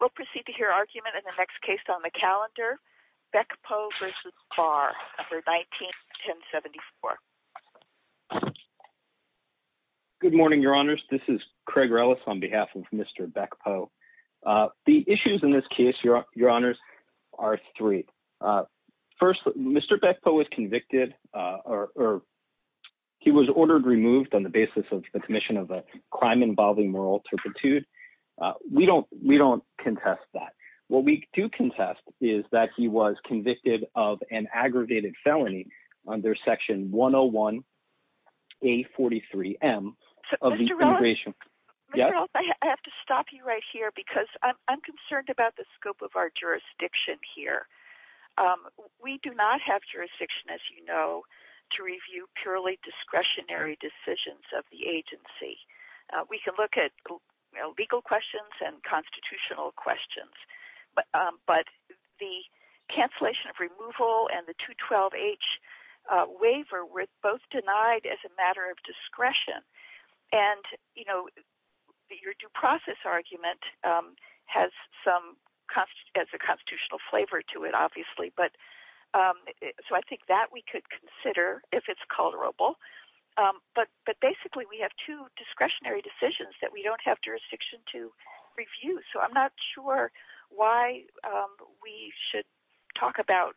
We'll proceed to hear argument in the next case on the calendar, Bekpo v. Barr for 19-1074. Good morning, Your Honors. This is Craig Rellis on behalf of Mr. Bekpo. The issues in this case, Your Honors, are three. First, Mr. Bekpo was convicted, or he was ordered removed on the basis of the commission of a crime involving moral turpitude. We don't contest that. What we do contest is that he was convicted of an aggregated felony under Section 101-A43-M of the Immigration… Mr. Rellis, I have to stop you right here because I'm concerned about the scope of our jurisdiction here. We do not have jurisdiction, as you know, to review purely discretionary decisions of the agency. We can look at legal questions and constitutional questions, but the cancellation of removal and the 212-H waiver were both denied as a matter of discretion. And, you know, your due process argument has some constitutional flavor to it, obviously. So I think that we could consider if it's tolerable. But basically, we have two discretionary decisions that we don't have jurisdiction to review, so I'm not sure why we should talk about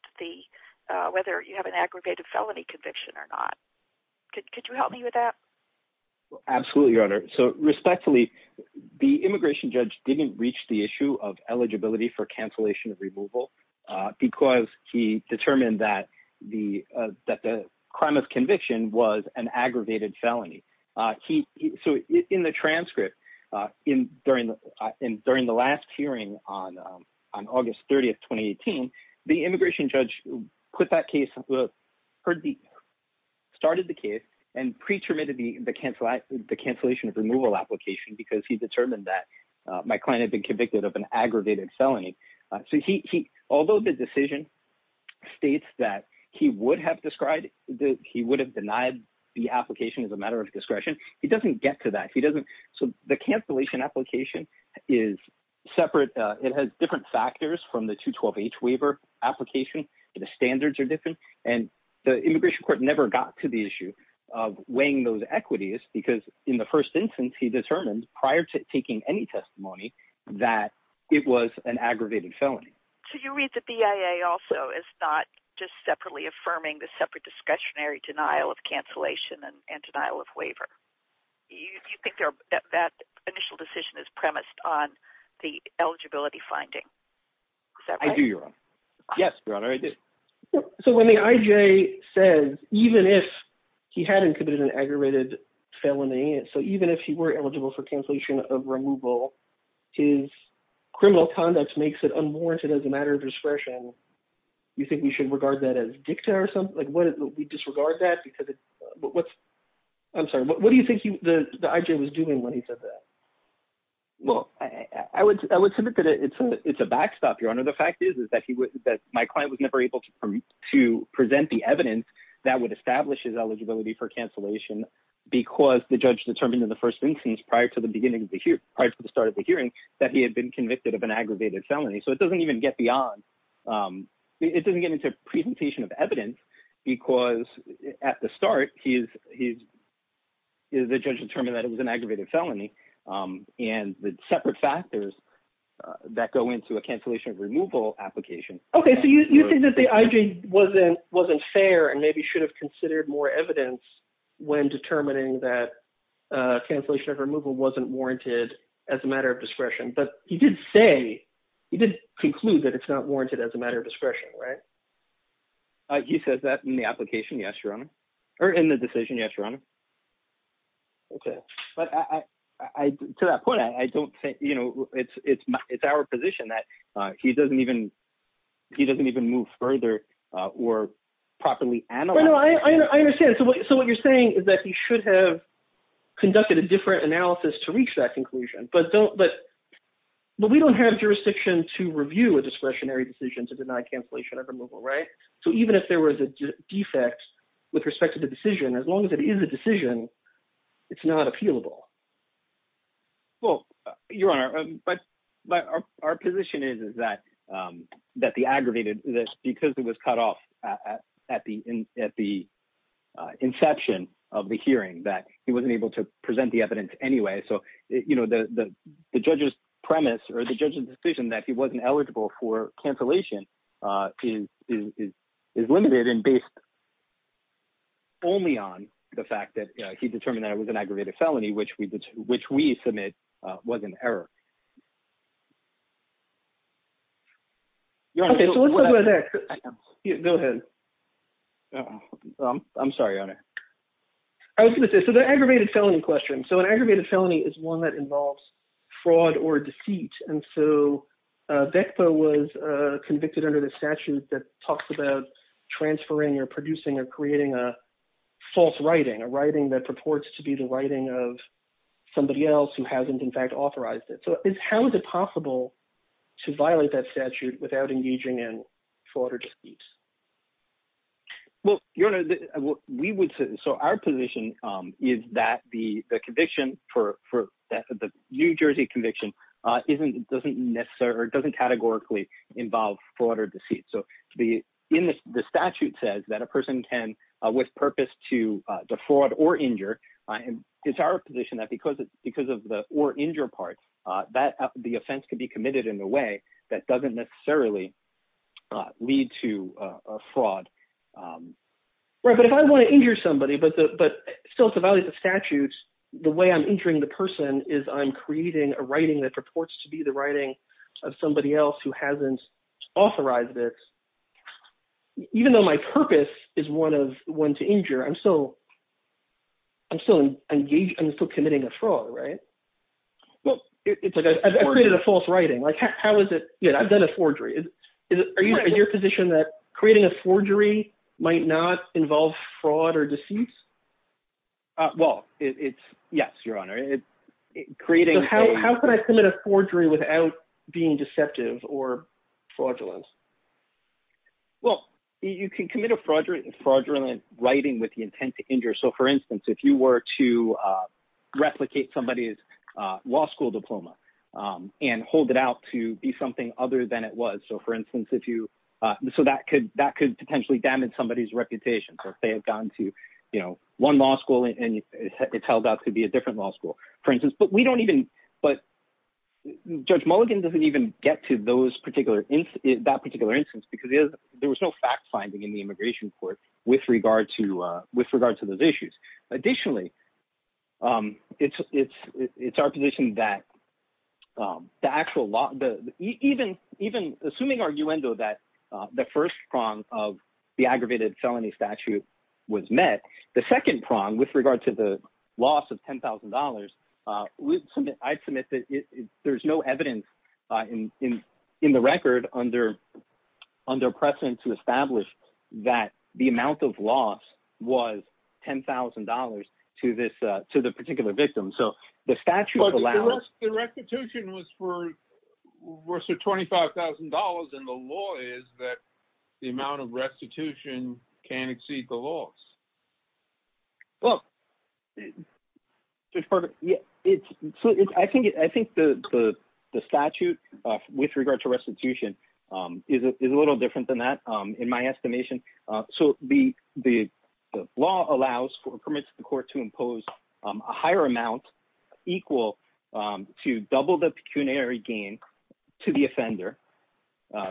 whether you have an aggravated felony conviction or not. Could you help me with that? Absolutely, Your Honor. So respectfully, the immigration judge didn't reach the issue of eligibility for cancellation of removal because he determined that the crime of conviction was an aggravated felony. So in the transcript, during the last hearing on August 30, 2018, the immigration judge put that case… started the case and pre-terminated the cancellation of removal application because he determined that my client had been convicted of an aggravated felony. So he… although the decision states that he would have described that he would have denied the application as a matter of discretion, he doesn't get to that. He doesn't… So the cancellation application is separate. It has different factors from the 212-H waiver application. The standards are different. And the immigration court never got to the issue of weighing those equities because in the first instance, he determined prior to taking any testimony that it was an aggravated felony. So you read the BIA also as not just separately affirming the separate discretionary denial of cancellation and denial of waiver. Do you think that initial decision is premised on the eligibility finding? Is that right? Yes, Your Honor, I do. So when the IJ says even if he hadn't committed an aggravated felony, so even if he were eligible for cancellation of removal, his criminal conduct makes it unwarranted as a matter of discretion. You think we should regard that as dicta or something? Like what… We disregard that because it's… But what's… I'm sorry. What do you think the IJ was doing when he said that? Well, I would submit that it's a backstop, Your Honor. The fact is that my client was never able to present the evidence that would establish his eligibility for cancellation because the judge determined in the first instance prior to the beginning of the hearing, prior to the start of the hearing, that he had been convicted of an aggravated felony. So it doesn't even get beyond… It doesn't get into presentation of evidence because at the start, the judge determined that it was an aggravated felony. And the separate factors that go into a cancellation of removal application… Okay, so you think that the IJ wasn't fair and maybe should have considered more evidence when determining that cancellation of removal wasn't warranted as a matter of discretion. But he did say, he did conclude that it's not warranted as a matter of discretion, right? He says that in the application, yes, Your Honor. Or in the decision, yes, Your Honor. Okay, but I, to that point, I don't think, you know, it's our position that he doesn't even, he doesn't even move further or properly analyze… No, I understand. So what you're saying is that he should have conducted a different analysis to reach that conclusion, but don't, but we don't have jurisdiction to review a discretionary decision to deny cancellation of removal, right? So even if there was a defect with respect to the decision, as long as it is a decision, it's not appealable. Well, Your Honor, but our position is that the aggravated, because it was cut off at the inception of the hearing, that he wasn't able to present the evidence anyway. So, you know, the judge's premise or the judge's decision that he wasn't eligible for cancellation is limited and based only on the fact that he determined that it was an aggravated felony, which we submit was an error. Okay, so let's talk about that. Go ahead. I'm sorry, Your Honor. I was going to say, so the aggravated felony question, so an aggravated felony is one that was convicted under the statute that talks about transferring or producing or creating a false writing, a writing that purports to be the writing of somebody else who hasn't, in fact, authorized it. So how is it possible to violate that statute without engaging in fraud or deceit? Well, Your Honor, we would say, so our position is that the conviction for the New Jersey conviction doesn't necessarily or doesn't categorically involve fraud or deceit. So the statute says that a person can, with purpose, defraud or injure. It's our position that because of the or injure part, the offense can be committed in a way that doesn't necessarily lead to fraud. But if I want to injure somebody, but still to violate the statutes, the way I'm injuring the person is I'm creating a writing that purports to be the writing of somebody else who hasn't authorized it, even though my purpose is one to injure, I'm still committing a fraud, right? Well, it's like I've created a false writing. I've done a forgery. Is your position that creating a forgery might not involve fraud or deceit? Well, it's yes, Your Honor. How can I commit a forgery without being deceptive or fraudulent? Well, you can commit a fraudulent writing with the intent to injure. So for instance, if you were to replicate somebody's law school diploma and hold it out to be something other than it was. So for instance, if you so that could that could potentially damage somebody's reputation or if they have gone to one law school and it's held out to be a different law school, for instance. But we don't even but Judge Mulligan doesn't even get to that particular instance because there was no fact finding in the immigration court with regard to those issues. Additionally, it's our position that the actual law, even assuming arguendo that the first prong of the aggravated felony statute was met, the second prong with regard to the loss of ten thousand dollars, I submit that there's no evidence in the record under under precedent to establish that the amount of loss was ten thousand dollars to this to the particular victim. So the statute allows the restitution was for worse or twenty five thousand dollars. And the law is that the amount of restitution can't exceed the loss. Well, it's perfect. It's I think I think the the statute with regard to restitution is a little different than that, in my estimation. So the the law allows for permits the court to impose a higher amount equal to double the pecuniary gain to the offender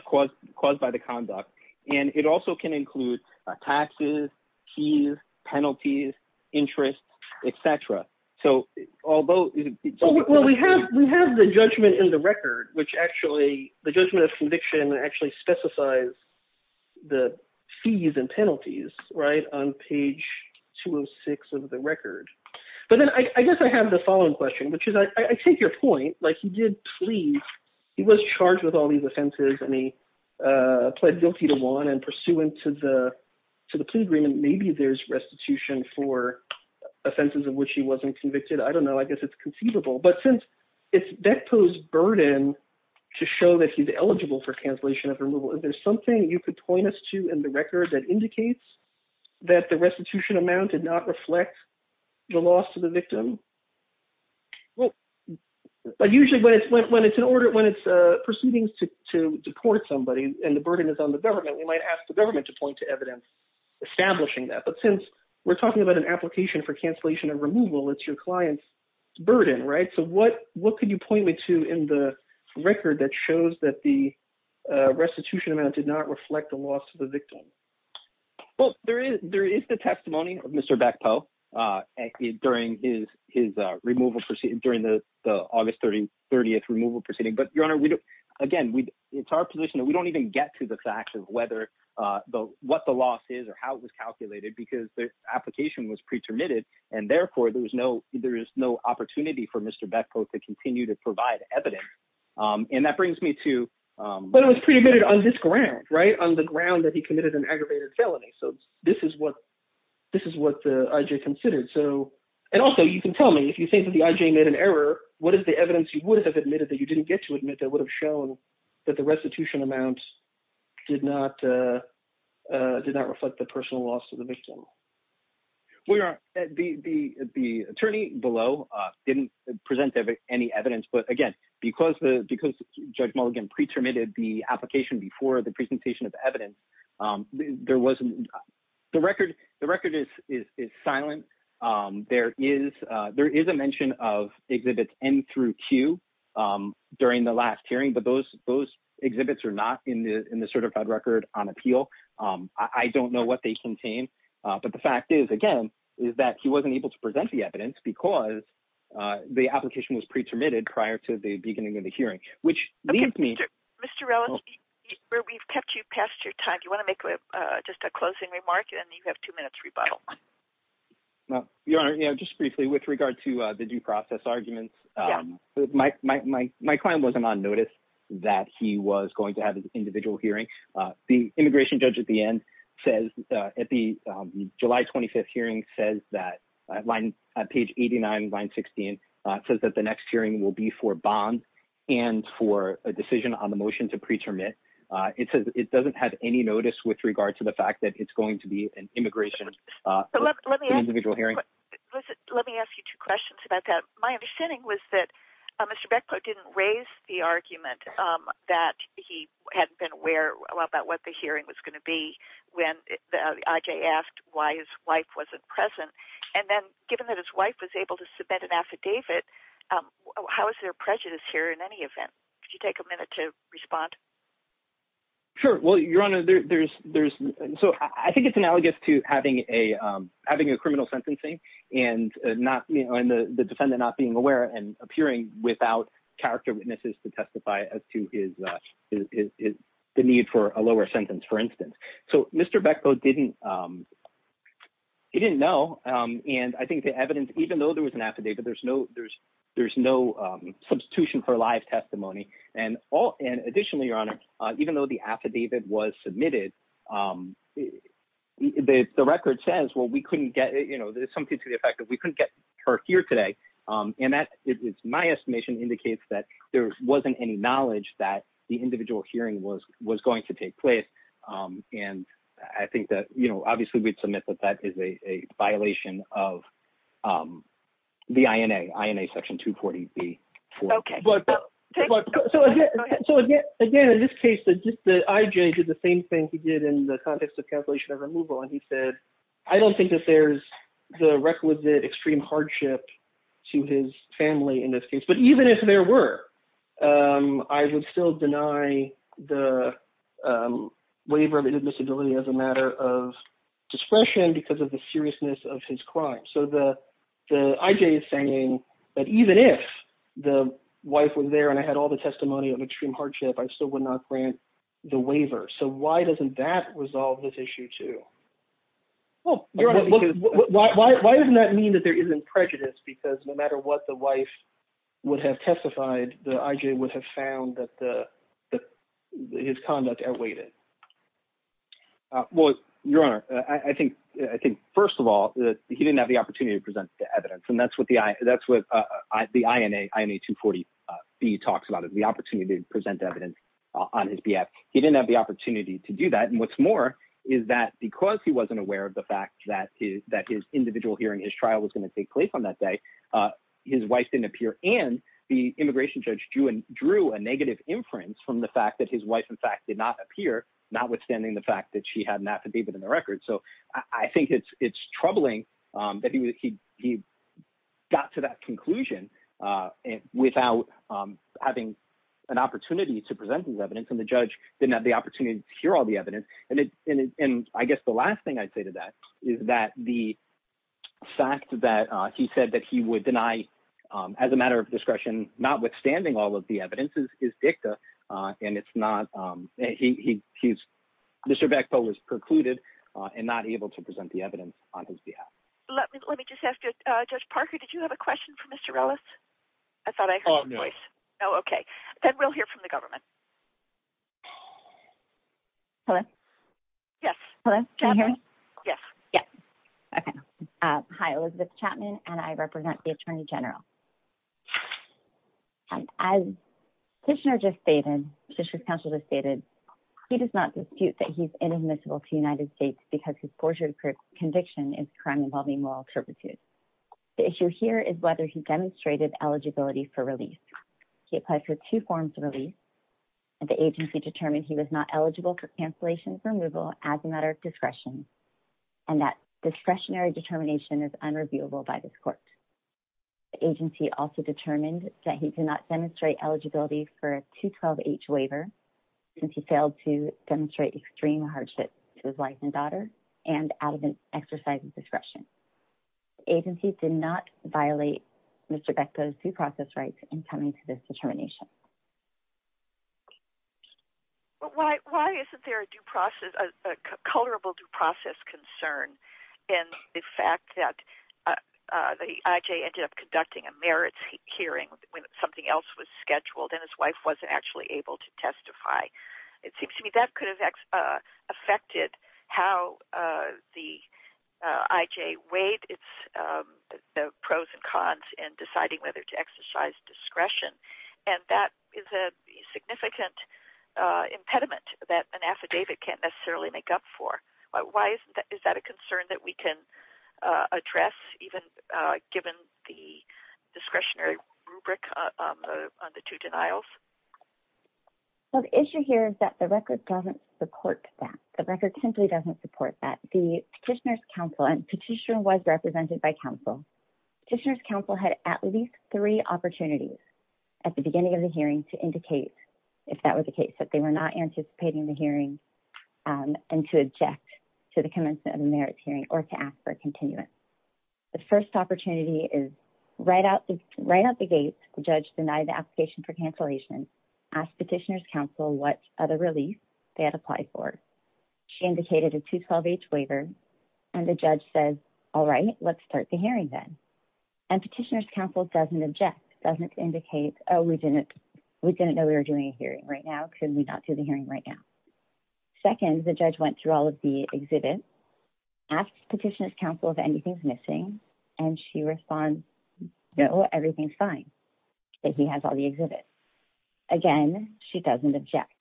caused caused by the conduct. And it also can include taxes, fees, penalties, interest, et cetera. So although well, we have we have the judgment in the record, which actually the judgment conviction actually specifies the fees and penalties right on page 206 of the record. But then I guess I have the following question, which is I take your point like you did. Please. He was charged with all these offenses and he pled guilty to one and pursuant to the to the plea agreement. Maybe there's restitution for offenses of which he wasn't convicted. I don't know. I guess it's conceivable. But since it's Beck pose burden to show that he's eligible for cancellation of removal. There's something you could point us to in the record that indicates that the restitution amount did not reflect the loss of the victim. Well, but usually when it's when it's an order when it's a proceedings to to deport somebody and the burden is on the government, we might ask the government to point to evidence. Establishing that. But since we're talking about an application for cancellation and removal. It's your client's burden. So what what can you point me to in the record that shows that the restitution amount did not reflect the loss of the victim. Well, there is there is the testimony of Mr. Backhoe during his his removal proceedings during the August 30 30th removal proceeding. But your honor, we don't. Again, we it's our position that we don't even get to the fact of whether what the loss is or how it was calculated because the application was pretermitted. And therefore, there was no there is no opportunity for Mr. Backhoe to continue to provide evidence. And that brings me to. But it was pretty good on this ground right on the ground that he committed an aggravated felony. So this is what this is what the IJ considered. So and also you can tell me if you think that the IJ made an error. What is the evidence you would have admitted that you didn't get to admit that would have shown that the restitution amounts did not did not reflect the personal loss of the victim. Well, your honor, the the the attorney below didn't present any evidence. But again, because the because Judge Mulligan pretermitted the application before the presentation of evidence, there wasn't the record. The record is is is silent. There is there is a mention of exhibits N through Q during the last hearing. But those those exhibits are not in the in the certified record on appeal. I don't know what they contain. But the fact is, again, is that he wasn't able to present the evidence because the application was pretermitted prior to the beginning of the hearing, which means me, Mr. Ellis, where we've kept you past your time. You want to make just a closing remark and you have two minutes rebuttal. Now, your honor, just briefly with regard to the due process arguments, my my my my client wasn't on notice that he was going to have an individual hearing. The immigration judge at the end says at the July 25th hearing says that line at page 89, line 16 says that the next hearing will be for bond and for a decision on the motion to preterm it. It says it doesn't have any notice with regard to the fact that it's going to be an immigration individual hearing. Let me ask you two questions about that. My understanding was that Mr. Beckett didn't raise the argument that he hadn't been aware about what the hearing was going to be when I.J. asked why his wife wasn't present. And then given that his wife was able to submit an affidavit, how is there prejudice here in any event? Could you take a minute to respond? Sure. Well, your honor, there's there's so I think it's analogous to having a having a being aware and appearing without character witnesses to testify to his is the need for a lower sentence, for instance. So Mr. Beckett didn't. He didn't know, and I think the evidence, even though there was an affidavit, there's no there's there's no substitution for live testimony and all. And additionally, your honor, even though the affidavit was submitted, the record says, well, we couldn't get something to the effect that we couldn't get her here today. And that is my estimation indicates that there wasn't any knowledge that the individual hearing was was going to take place. And I think that, you know, obviously, we'd submit that that is a violation of the INA INA section 240. OK. So again, in this case, the IJ did the same thing he did in the context of cancellation of removal. And he said, I don't think that there's the requisite extreme hardship to his family in this case. But even if there were, I would still deny the waiver of admissibility as a matter of discretion because of the seriousness of his crime. So the the IJ is saying that even if the wife was there and I had all the testimony of extreme hardship, I still would not grant the waiver. So why doesn't that resolve this issue, too? Well, why doesn't that mean that there isn't prejudice? Because no matter what the wife would have testified, the IJ would have found that the his conduct awaited. Well, your honor, I think I think, first of all, he didn't have the opportunity to present the evidence. And that's what the that's what the INA INA 240b talks about is the opportunity to present evidence on his behalf. He didn't have the opportunity to do that. And what's more is that because he wasn't aware of the fact that that his individual hearing, his trial was going to take place on that day, his wife didn't appear. And the immigration judge drew and drew a negative inference from the fact that his wife, in fact, did not appear, notwithstanding the fact that she had an affidavit in the record. So I think it's it's troubling that he got to that conclusion without having an opportunity to present his evidence. And the judge didn't have the opportunity to hear all the evidence. And I guess the last thing I'd say to that is that the fact that he said that he would deny as a matter of discretion, notwithstanding all of the evidence is dicta. And it's not he he's Mr. Bechtel is precluded and not able to present the evidence on his behalf. Let me let me just ask you, Judge Parker, did you have a question for Mr. Ellis? I thought I heard a voice. Oh, OK. Then we'll hear from the government. Hello? Yes. Hello. Can you hear me? Yes. Yeah. OK. Hi, Elizabeth Chapman, and I represent the attorney general. As Kishner just stated, District Counsel just stated, he does not dispute that he's inadmissible to the United States because his forgery conviction is crime involving moral turpitude. The issue here is whether he demonstrated eligibility for release. He applied for two forms of release, and the agency determined he was not eligible for cancellation for removal as a matter of discretion and that discretionary determination is unreviewable by this court. The agency also determined that he did not demonstrate eligibility for a 212H waiver since he failed to demonstrate extreme hardship to his wife and daughter and out of an exercise of discretion. Agencies did not violate Mr. Bechtol's due process rights in coming to this determination. But why isn't there a colorable due process concern in the fact that the IJ ended up conducting a merits hearing when something else was scheduled and his wife wasn't actually able to testify? It seems to me that could have affected how the IJ weighed its pros and cons in deciding whether to exercise discretion, and that is a significant impediment that an affidavit can't necessarily make up for. Is that a concern that we can address even given the discretionary rubric on the two denials? So the issue here is that the record doesn't support that. The record simply doesn't support that. The Petitioner's Council, and Petitioner was represented by Council, Petitioner's Council had at least three opportunities at the beginning of the hearing to indicate if that was the case, that they were not anticipating the hearing and to object to the commencement of the merits hearing or to ask for a continuance. The first opportunity is right out the gate, the judge denied the application for cancellation, asked Petitioner's Council what other release they had applied for. She indicated a 212H waiver, and the judge says, all right, let's start the hearing And Petitioner's Council doesn't object, doesn't indicate, oh, we didn't know we were doing a hearing right now, couldn't we not do the hearing right now? Second, the judge went through all of the exhibits, asked Petitioner's Council if anything's missing, and she responds, no, everything's fine, that he has all the exhibits. Again, she doesn't object.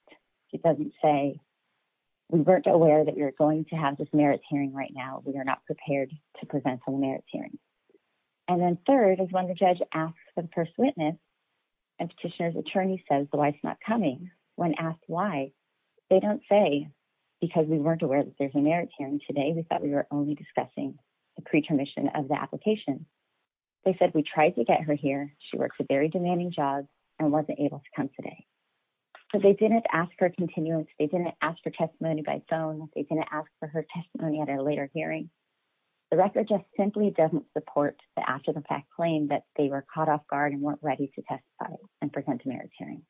She doesn't say, we weren't aware that you're going to have this merits hearing right now, we are not prepared to present a merits hearing. And then third is when the judge asks the first witness, and Petitioner's attorney says the wife's not coming, when asked why, they don't say, because we weren't aware that there's a merits hearing today, we thought we were only discussing the pre-commission of the application. They said we tried to get her here, she works a very demanding job, and wasn't able to come today. So they didn't ask for a continuum, they didn't ask for testimony by phone, they didn't ask for her testimony at a later hearing. The record just simply doesn't support the after-the-fact claim that they were caught off guard and weren't ready to testify and present a merits hearing.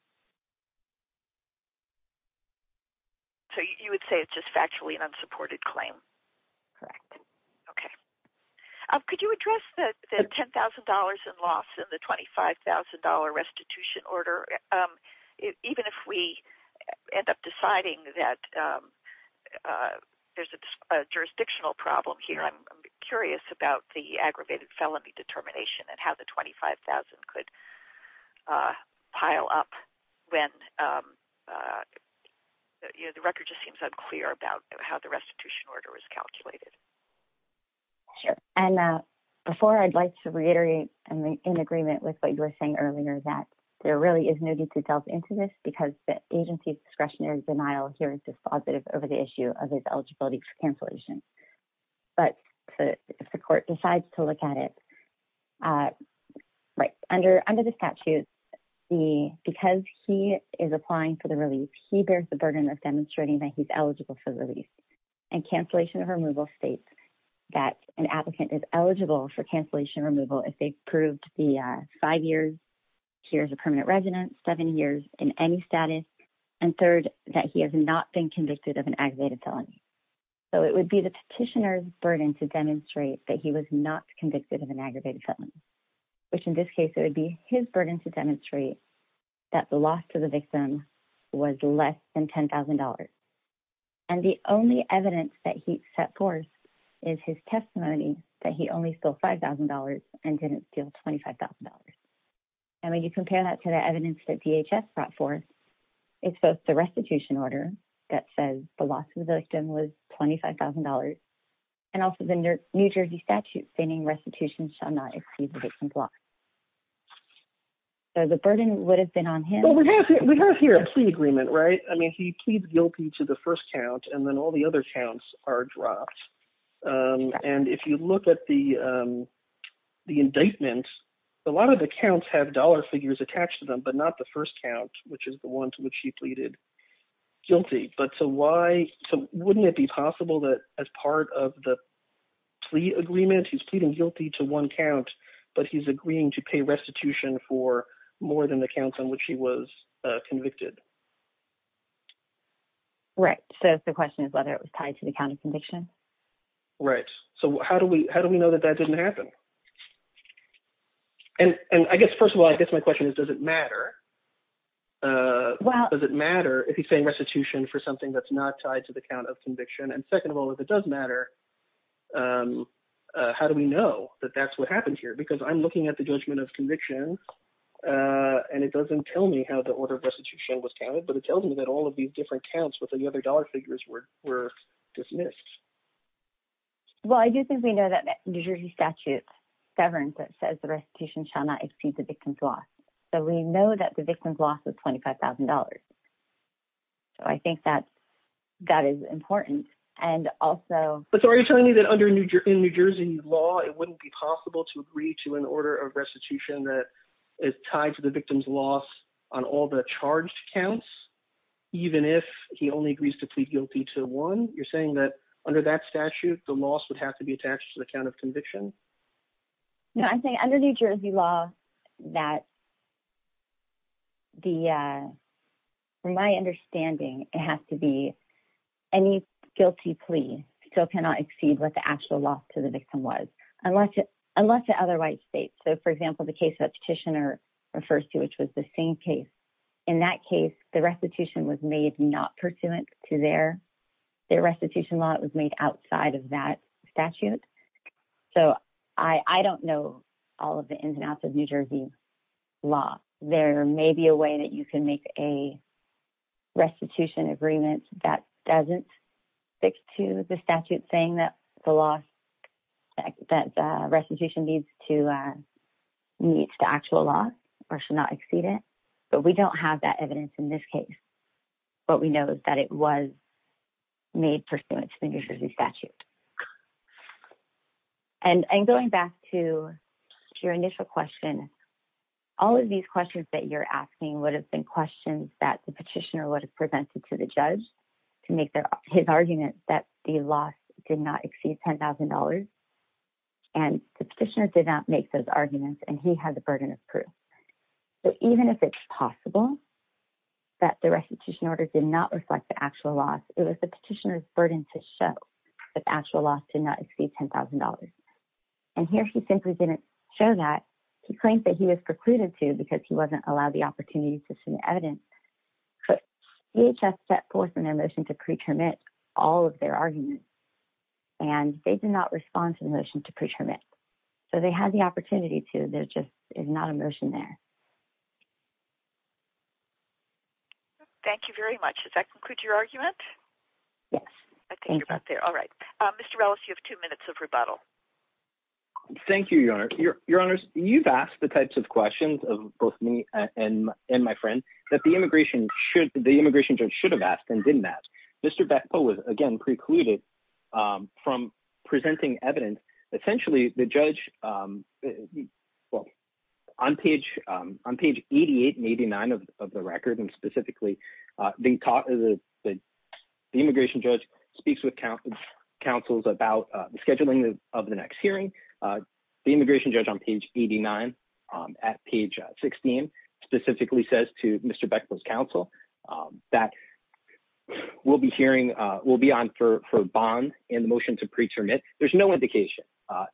So you would say it's just factually an unsupported claim? Correct. Okay. Could you address the $10,000 in loss and the $25,000 restitution order? Even if we end up deciding that there's a jurisdictional problem here, I'm curious about the aggravated felony determination and how the $25,000 could pile up when the record just seems unclear about how the restitution order was calculated. Sure. And before I'd like to reiterate in agreement with what you were saying earlier that there really is no need to delve into this because the agency's discretionary denial here is dispositive over the issue of his eligibility for cancellation. But if the court decides to look at it, right, under the statute, because he is applying for the release, he bears the burden of demonstrating that he's that an applicant is eligible for cancellation removal if they've proved the five years, here's a permanent residence, seven years in any status, and third, that he has not been convicted of an aggravated felony. So it would be the petitioner's burden to demonstrate that he was not convicted of an aggravated felony, which in this case, it would be his burden to demonstrate And the only evidence that he set forth is his testimony that he only stole $5,000 and didn't steal $25,000. And when you compare that to the evidence that DHS brought forth, it's both the restitution order that says the loss of the victim was $25,000. And also the New Jersey statute stating restitution shall not exceed the victim's loss. So the burden would have been on him. Well, we have here a plea agreement, right? He pleads guilty to the first count, and then all the other counts are dropped. And if you look at the indictment, a lot of the counts have dollar figures attached to them, but not the first count, which is the one to which he pleaded guilty. But so why, wouldn't it be possible that as part of the plea agreement, he's pleading guilty to one count, but he's agreeing to pay restitution for more than the counts on which he was convicted? Right. So the question is whether it was tied to the count of conviction. Right. So how do we know that that didn't happen? And I guess, first of all, I guess my question is, does it matter? Does it matter if he's paying restitution for something that's not tied to the count of conviction? And second of all, if it does matter, how do we know that that's what happened here? Because I'm looking at the judgment of convictions, and it doesn't tell me how the order of these different counts with the other dollar figures were dismissed. Well, I do think we know that the New Jersey statute governs that says the restitution shall not exceed the victim's loss. So we know that the victim's loss is $25,000. So I think that that is important. And also— But so are you telling me that under New Jersey law, it wouldn't be possible to agree to an order of restitution that is tied to the victim's loss on all the charged counts? Even if he only agrees to plead guilty to one? You're saying that under that statute, the loss would have to be attached to the count of conviction? No, I'm saying under New Jersey law, that from my understanding, it has to be any guilty plea still cannot exceed what the actual loss to the victim was, unless it otherwise states. So for example, the case that Petitioner refers to, which was the same case, in that case, the restitution was made not pursuant to their restitution law. It was made outside of that statute. So I don't know all of the ins and outs of New Jersey law. There may be a way that you can make a restitution agreement that doesn't stick to the statute saying that the restitution needs to meet the actual loss or should not exceed it. But we don't have that evidence in this case. What we know is that it was made pursuant to the New Jersey statute. And going back to your initial question, all of these questions that you're asking would have been questions that the Petitioner would have presented to the judge to make his argument that the loss did not exceed $10,000, and the Petitioner did not make those arguments, and he has the burden of proof. But even if it's possible that the restitution order did not reflect the actual loss, it was the Petitioner's burden to show that the actual loss did not exceed $10,000. And here he simply didn't show that. He claims that he was precluded to because he wasn't allowed the opportunity to submit evidence. But DHS set forth in their motion to pre-termit all of their arguments, and they did not respond to the motion to pre-termit. So they had the opportunity to. There just is not a motion there. Thank you very much. Does that conclude your argument? Yes. I think you're about there. All right. Mr. Ellis, you have two minutes of rebuttal. Thank you, Your Honor. Your Honors, you've asked the types of questions of both me and my friend that the immigration judge should have asked and didn't ask. Mr. Bechtold was, again, precluded from presenting evidence. Essentially, the judge, well, on page 88 and 89 of the record, and specifically, the immigration judge speaks with counsels about the scheduling of the next hearing. The immigration judge on page 89 at page 16 specifically says to Mr. Bechtold's counsel that we'll be hearing—we'll be on for bond in the motion to pre-termit. There's no indication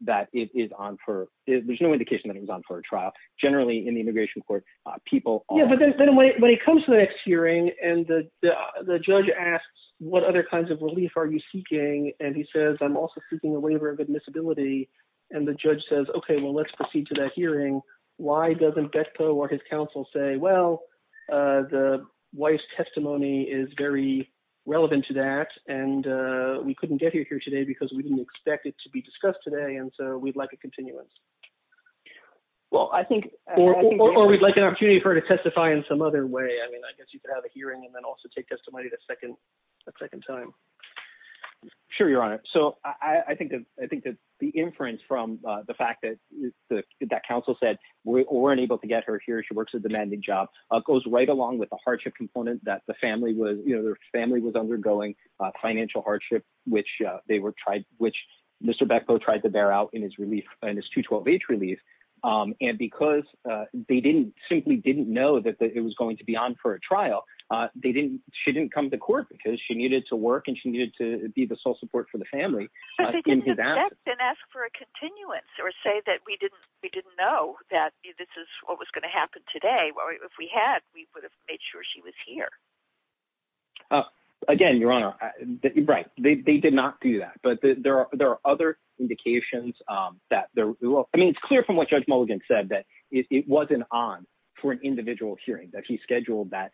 that it is on for—there's no indication that it was on for a trial. Generally, in the immigration court, people— Yeah, but then when he comes to the next hearing and the judge asks, what other kinds of relief are you seeking? And he says, I'm also seeking a waiver of admissibility. And the judge says, okay, well, let's proceed to that hearing. Why doesn't Bechtold or his counsel say, well, the wife's testimony is very relevant to that, and we couldn't get you here today because we didn't expect it to be discussed today, and so we'd like a continuance? Well, I think— Or we'd like an opportunity for her to testify in some other way. I mean, I guess you could have a hearing and then also take testimony the second time. Sure, Your Honor. So I think that the inference from the fact that counsel said, we weren't able to get her here, she works a demanding job, goes right along with the hardship component that the family was undergoing, financial hardship, which Mr. Bechtold tried to bear out in his relief, in his 2-12 age relief. And because they simply didn't know that it was going to be on for a trial, she didn't come to court because she needed to work and she needed to be the sole support for the family in his absence. But they didn't expect and ask for a continuance or say that we didn't know that this is what was going to happen today. Well, if we had, we would have made sure she was here. Again, Your Honor, right, they did not do that. But there are other indications that there— I mean, it's clear from what Judge Mulligan said that it wasn't on for an individual hearing, that he scheduled that.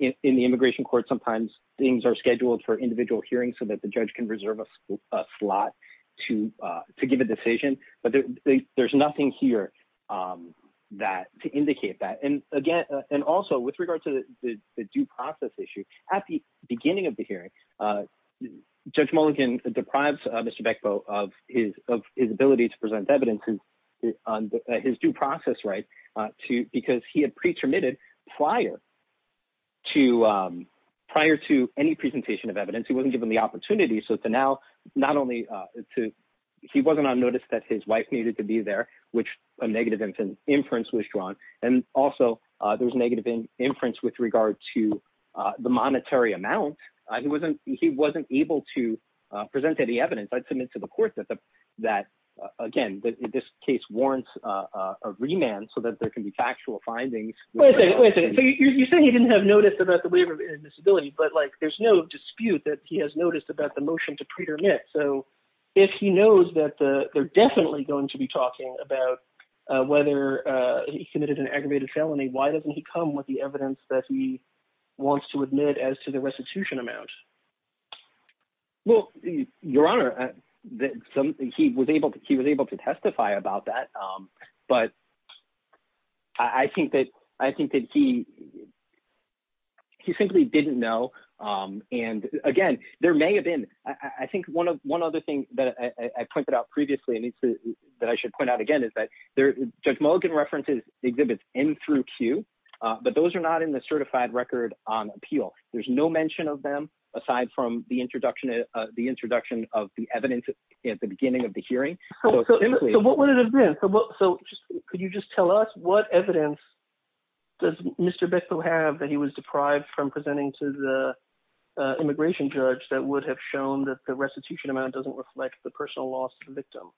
In the immigration court, sometimes things are scheduled for individual hearings so the judge can reserve a slot to give a decision. But there's nothing here to indicate that. And again, and also with regard to the due process issue, at the beginning of the hearing, Judge Mulligan deprives Mr. Bechtold of his ability to present evidence on his due process right because he had pretermitted prior to any presentation of evidence. He wasn't given the opportunity. So to now, not only to—he wasn't on notice that his wife needed to be there, which a negative inference was drawn. And also, there was negative inference with regard to the monetary amount. He wasn't able to present any evidence. I'd submit to the court that, again, that this case warrants a remand so that there can be factual findings. Wait a second, wait a second. You're saying he didn't have notice about the waiver of disability. But there's no dispute that he has noticed about the motion to pretermit. So if he knows that they're definitely going to be talking about whether he committed an aggravated felony, why doesn't he come with the evidence that he wants to admit as to the restitution amount? Well, Your Honor, he was able to testify about that. But I think that he simply didn't know. And again, there may have been—I think one other thing that I pointed out previously that I should point out again is that Judge Mulligan references exhibits N through Q, but those are not in the certified record on appeal. There's no mention of them aside from the introduction of the evidence at the beginning of the hearing. So what would it have been? Could you just tell us what evidence does Mr. Bechtel have that he was deprived from presenting to the immigration judge that would have shown that the restitution amount doesn't reflect the personal loss of the victim?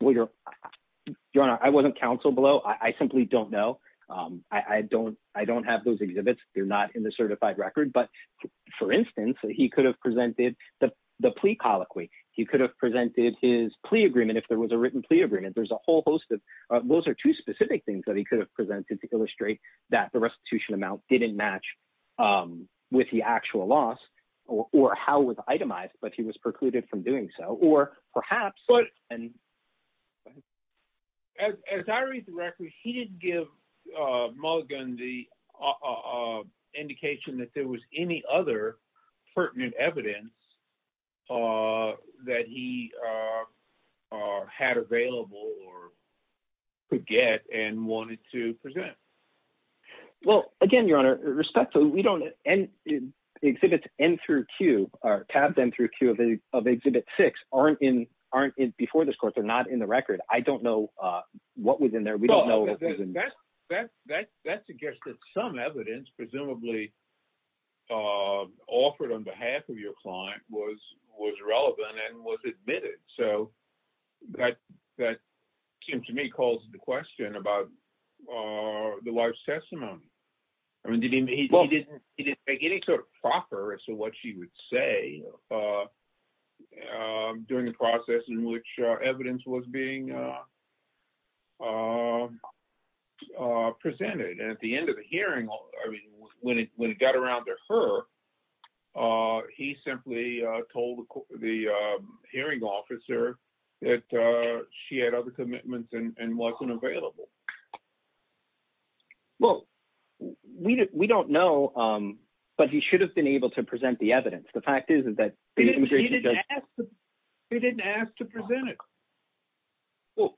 Well, Your Honor, I wasn't counseled below. I simply don't know. I don't have those exhibits. They're not in the certified record. But for instance, he could have presented the plea colloquy. He could have presented his plea agreement, if there was a written plea agreement. There's a whole host of—those are two specific things that he could have presented to illustrate that the restitution amount didn't match with the actual loss or how it was itemized, but he was precluded from doing so. Or perhaps— As I read the record, he didn't give Mulligan the indication that there was any other pertinent evidence that he had available or could get and wanted to present. Well, again, Your Honor, we don't—exhibits N through Q, or tabs N through Q of Exhibit 6 aren't before this court. They're not in the record. I don't know what was in there. Well, that suggests that some evidence, presumably offered on behalf of your client, was relevant and was admitted. So that, it seems to me, calls the question about the wife's testimony. I mean, he didn't make any sort of proffer as to what she would say during the process in which evidence was being presented. And at the end of the hearing, I mean, when it got around to her, he simply told the hearing officer that she had other commitments and wasn't available. Well, we don't know, but he should have been able to present the evidence. The fact is, is that the immigration judge— He didn't ask to present it. Well,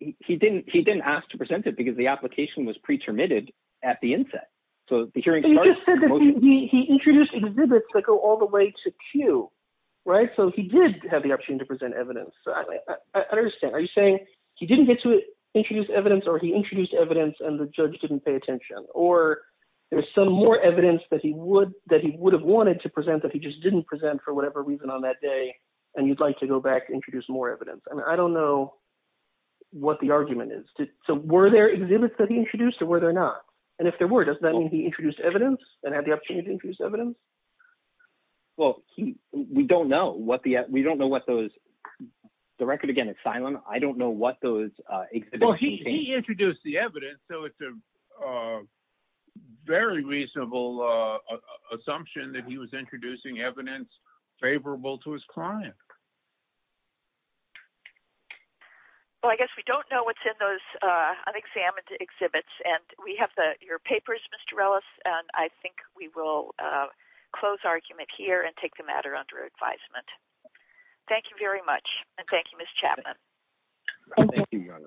he didn't ask to present it because the application was pre-terminated at the inset. So the hearing started— He just said that he introduced exhibits that go all the way to Q, right? So he did have the option to present evidence. So I understand. Are you saying he didn't get to introduce evidence or he introduced evidence and the judge didn't pay attention? Or there's some more evidence that he would have wanted to present that he just didn't present for whatever reason on that day, and you'd like to go back and introduce more evidence? I don't know what the argument is. So were there exhibits that he introduced or were there not? And if there were, does that mean he introduced evidence and had the opportunity to introduce evidence? Well, we don't know what the— We don't know what those— The record, again, is silent. I don't know what those exhibits— Well, he introduced the evidence. So it's a very reasonable assumption that he was introducing evidence favorable to his client. Well, I guess we don't know what's in those unexamined exhibits. And we have your papers, Mr. Ellis, and I think we will close our argument here and take the matter under advisement. Thank you very much. Thank you, Your Honor.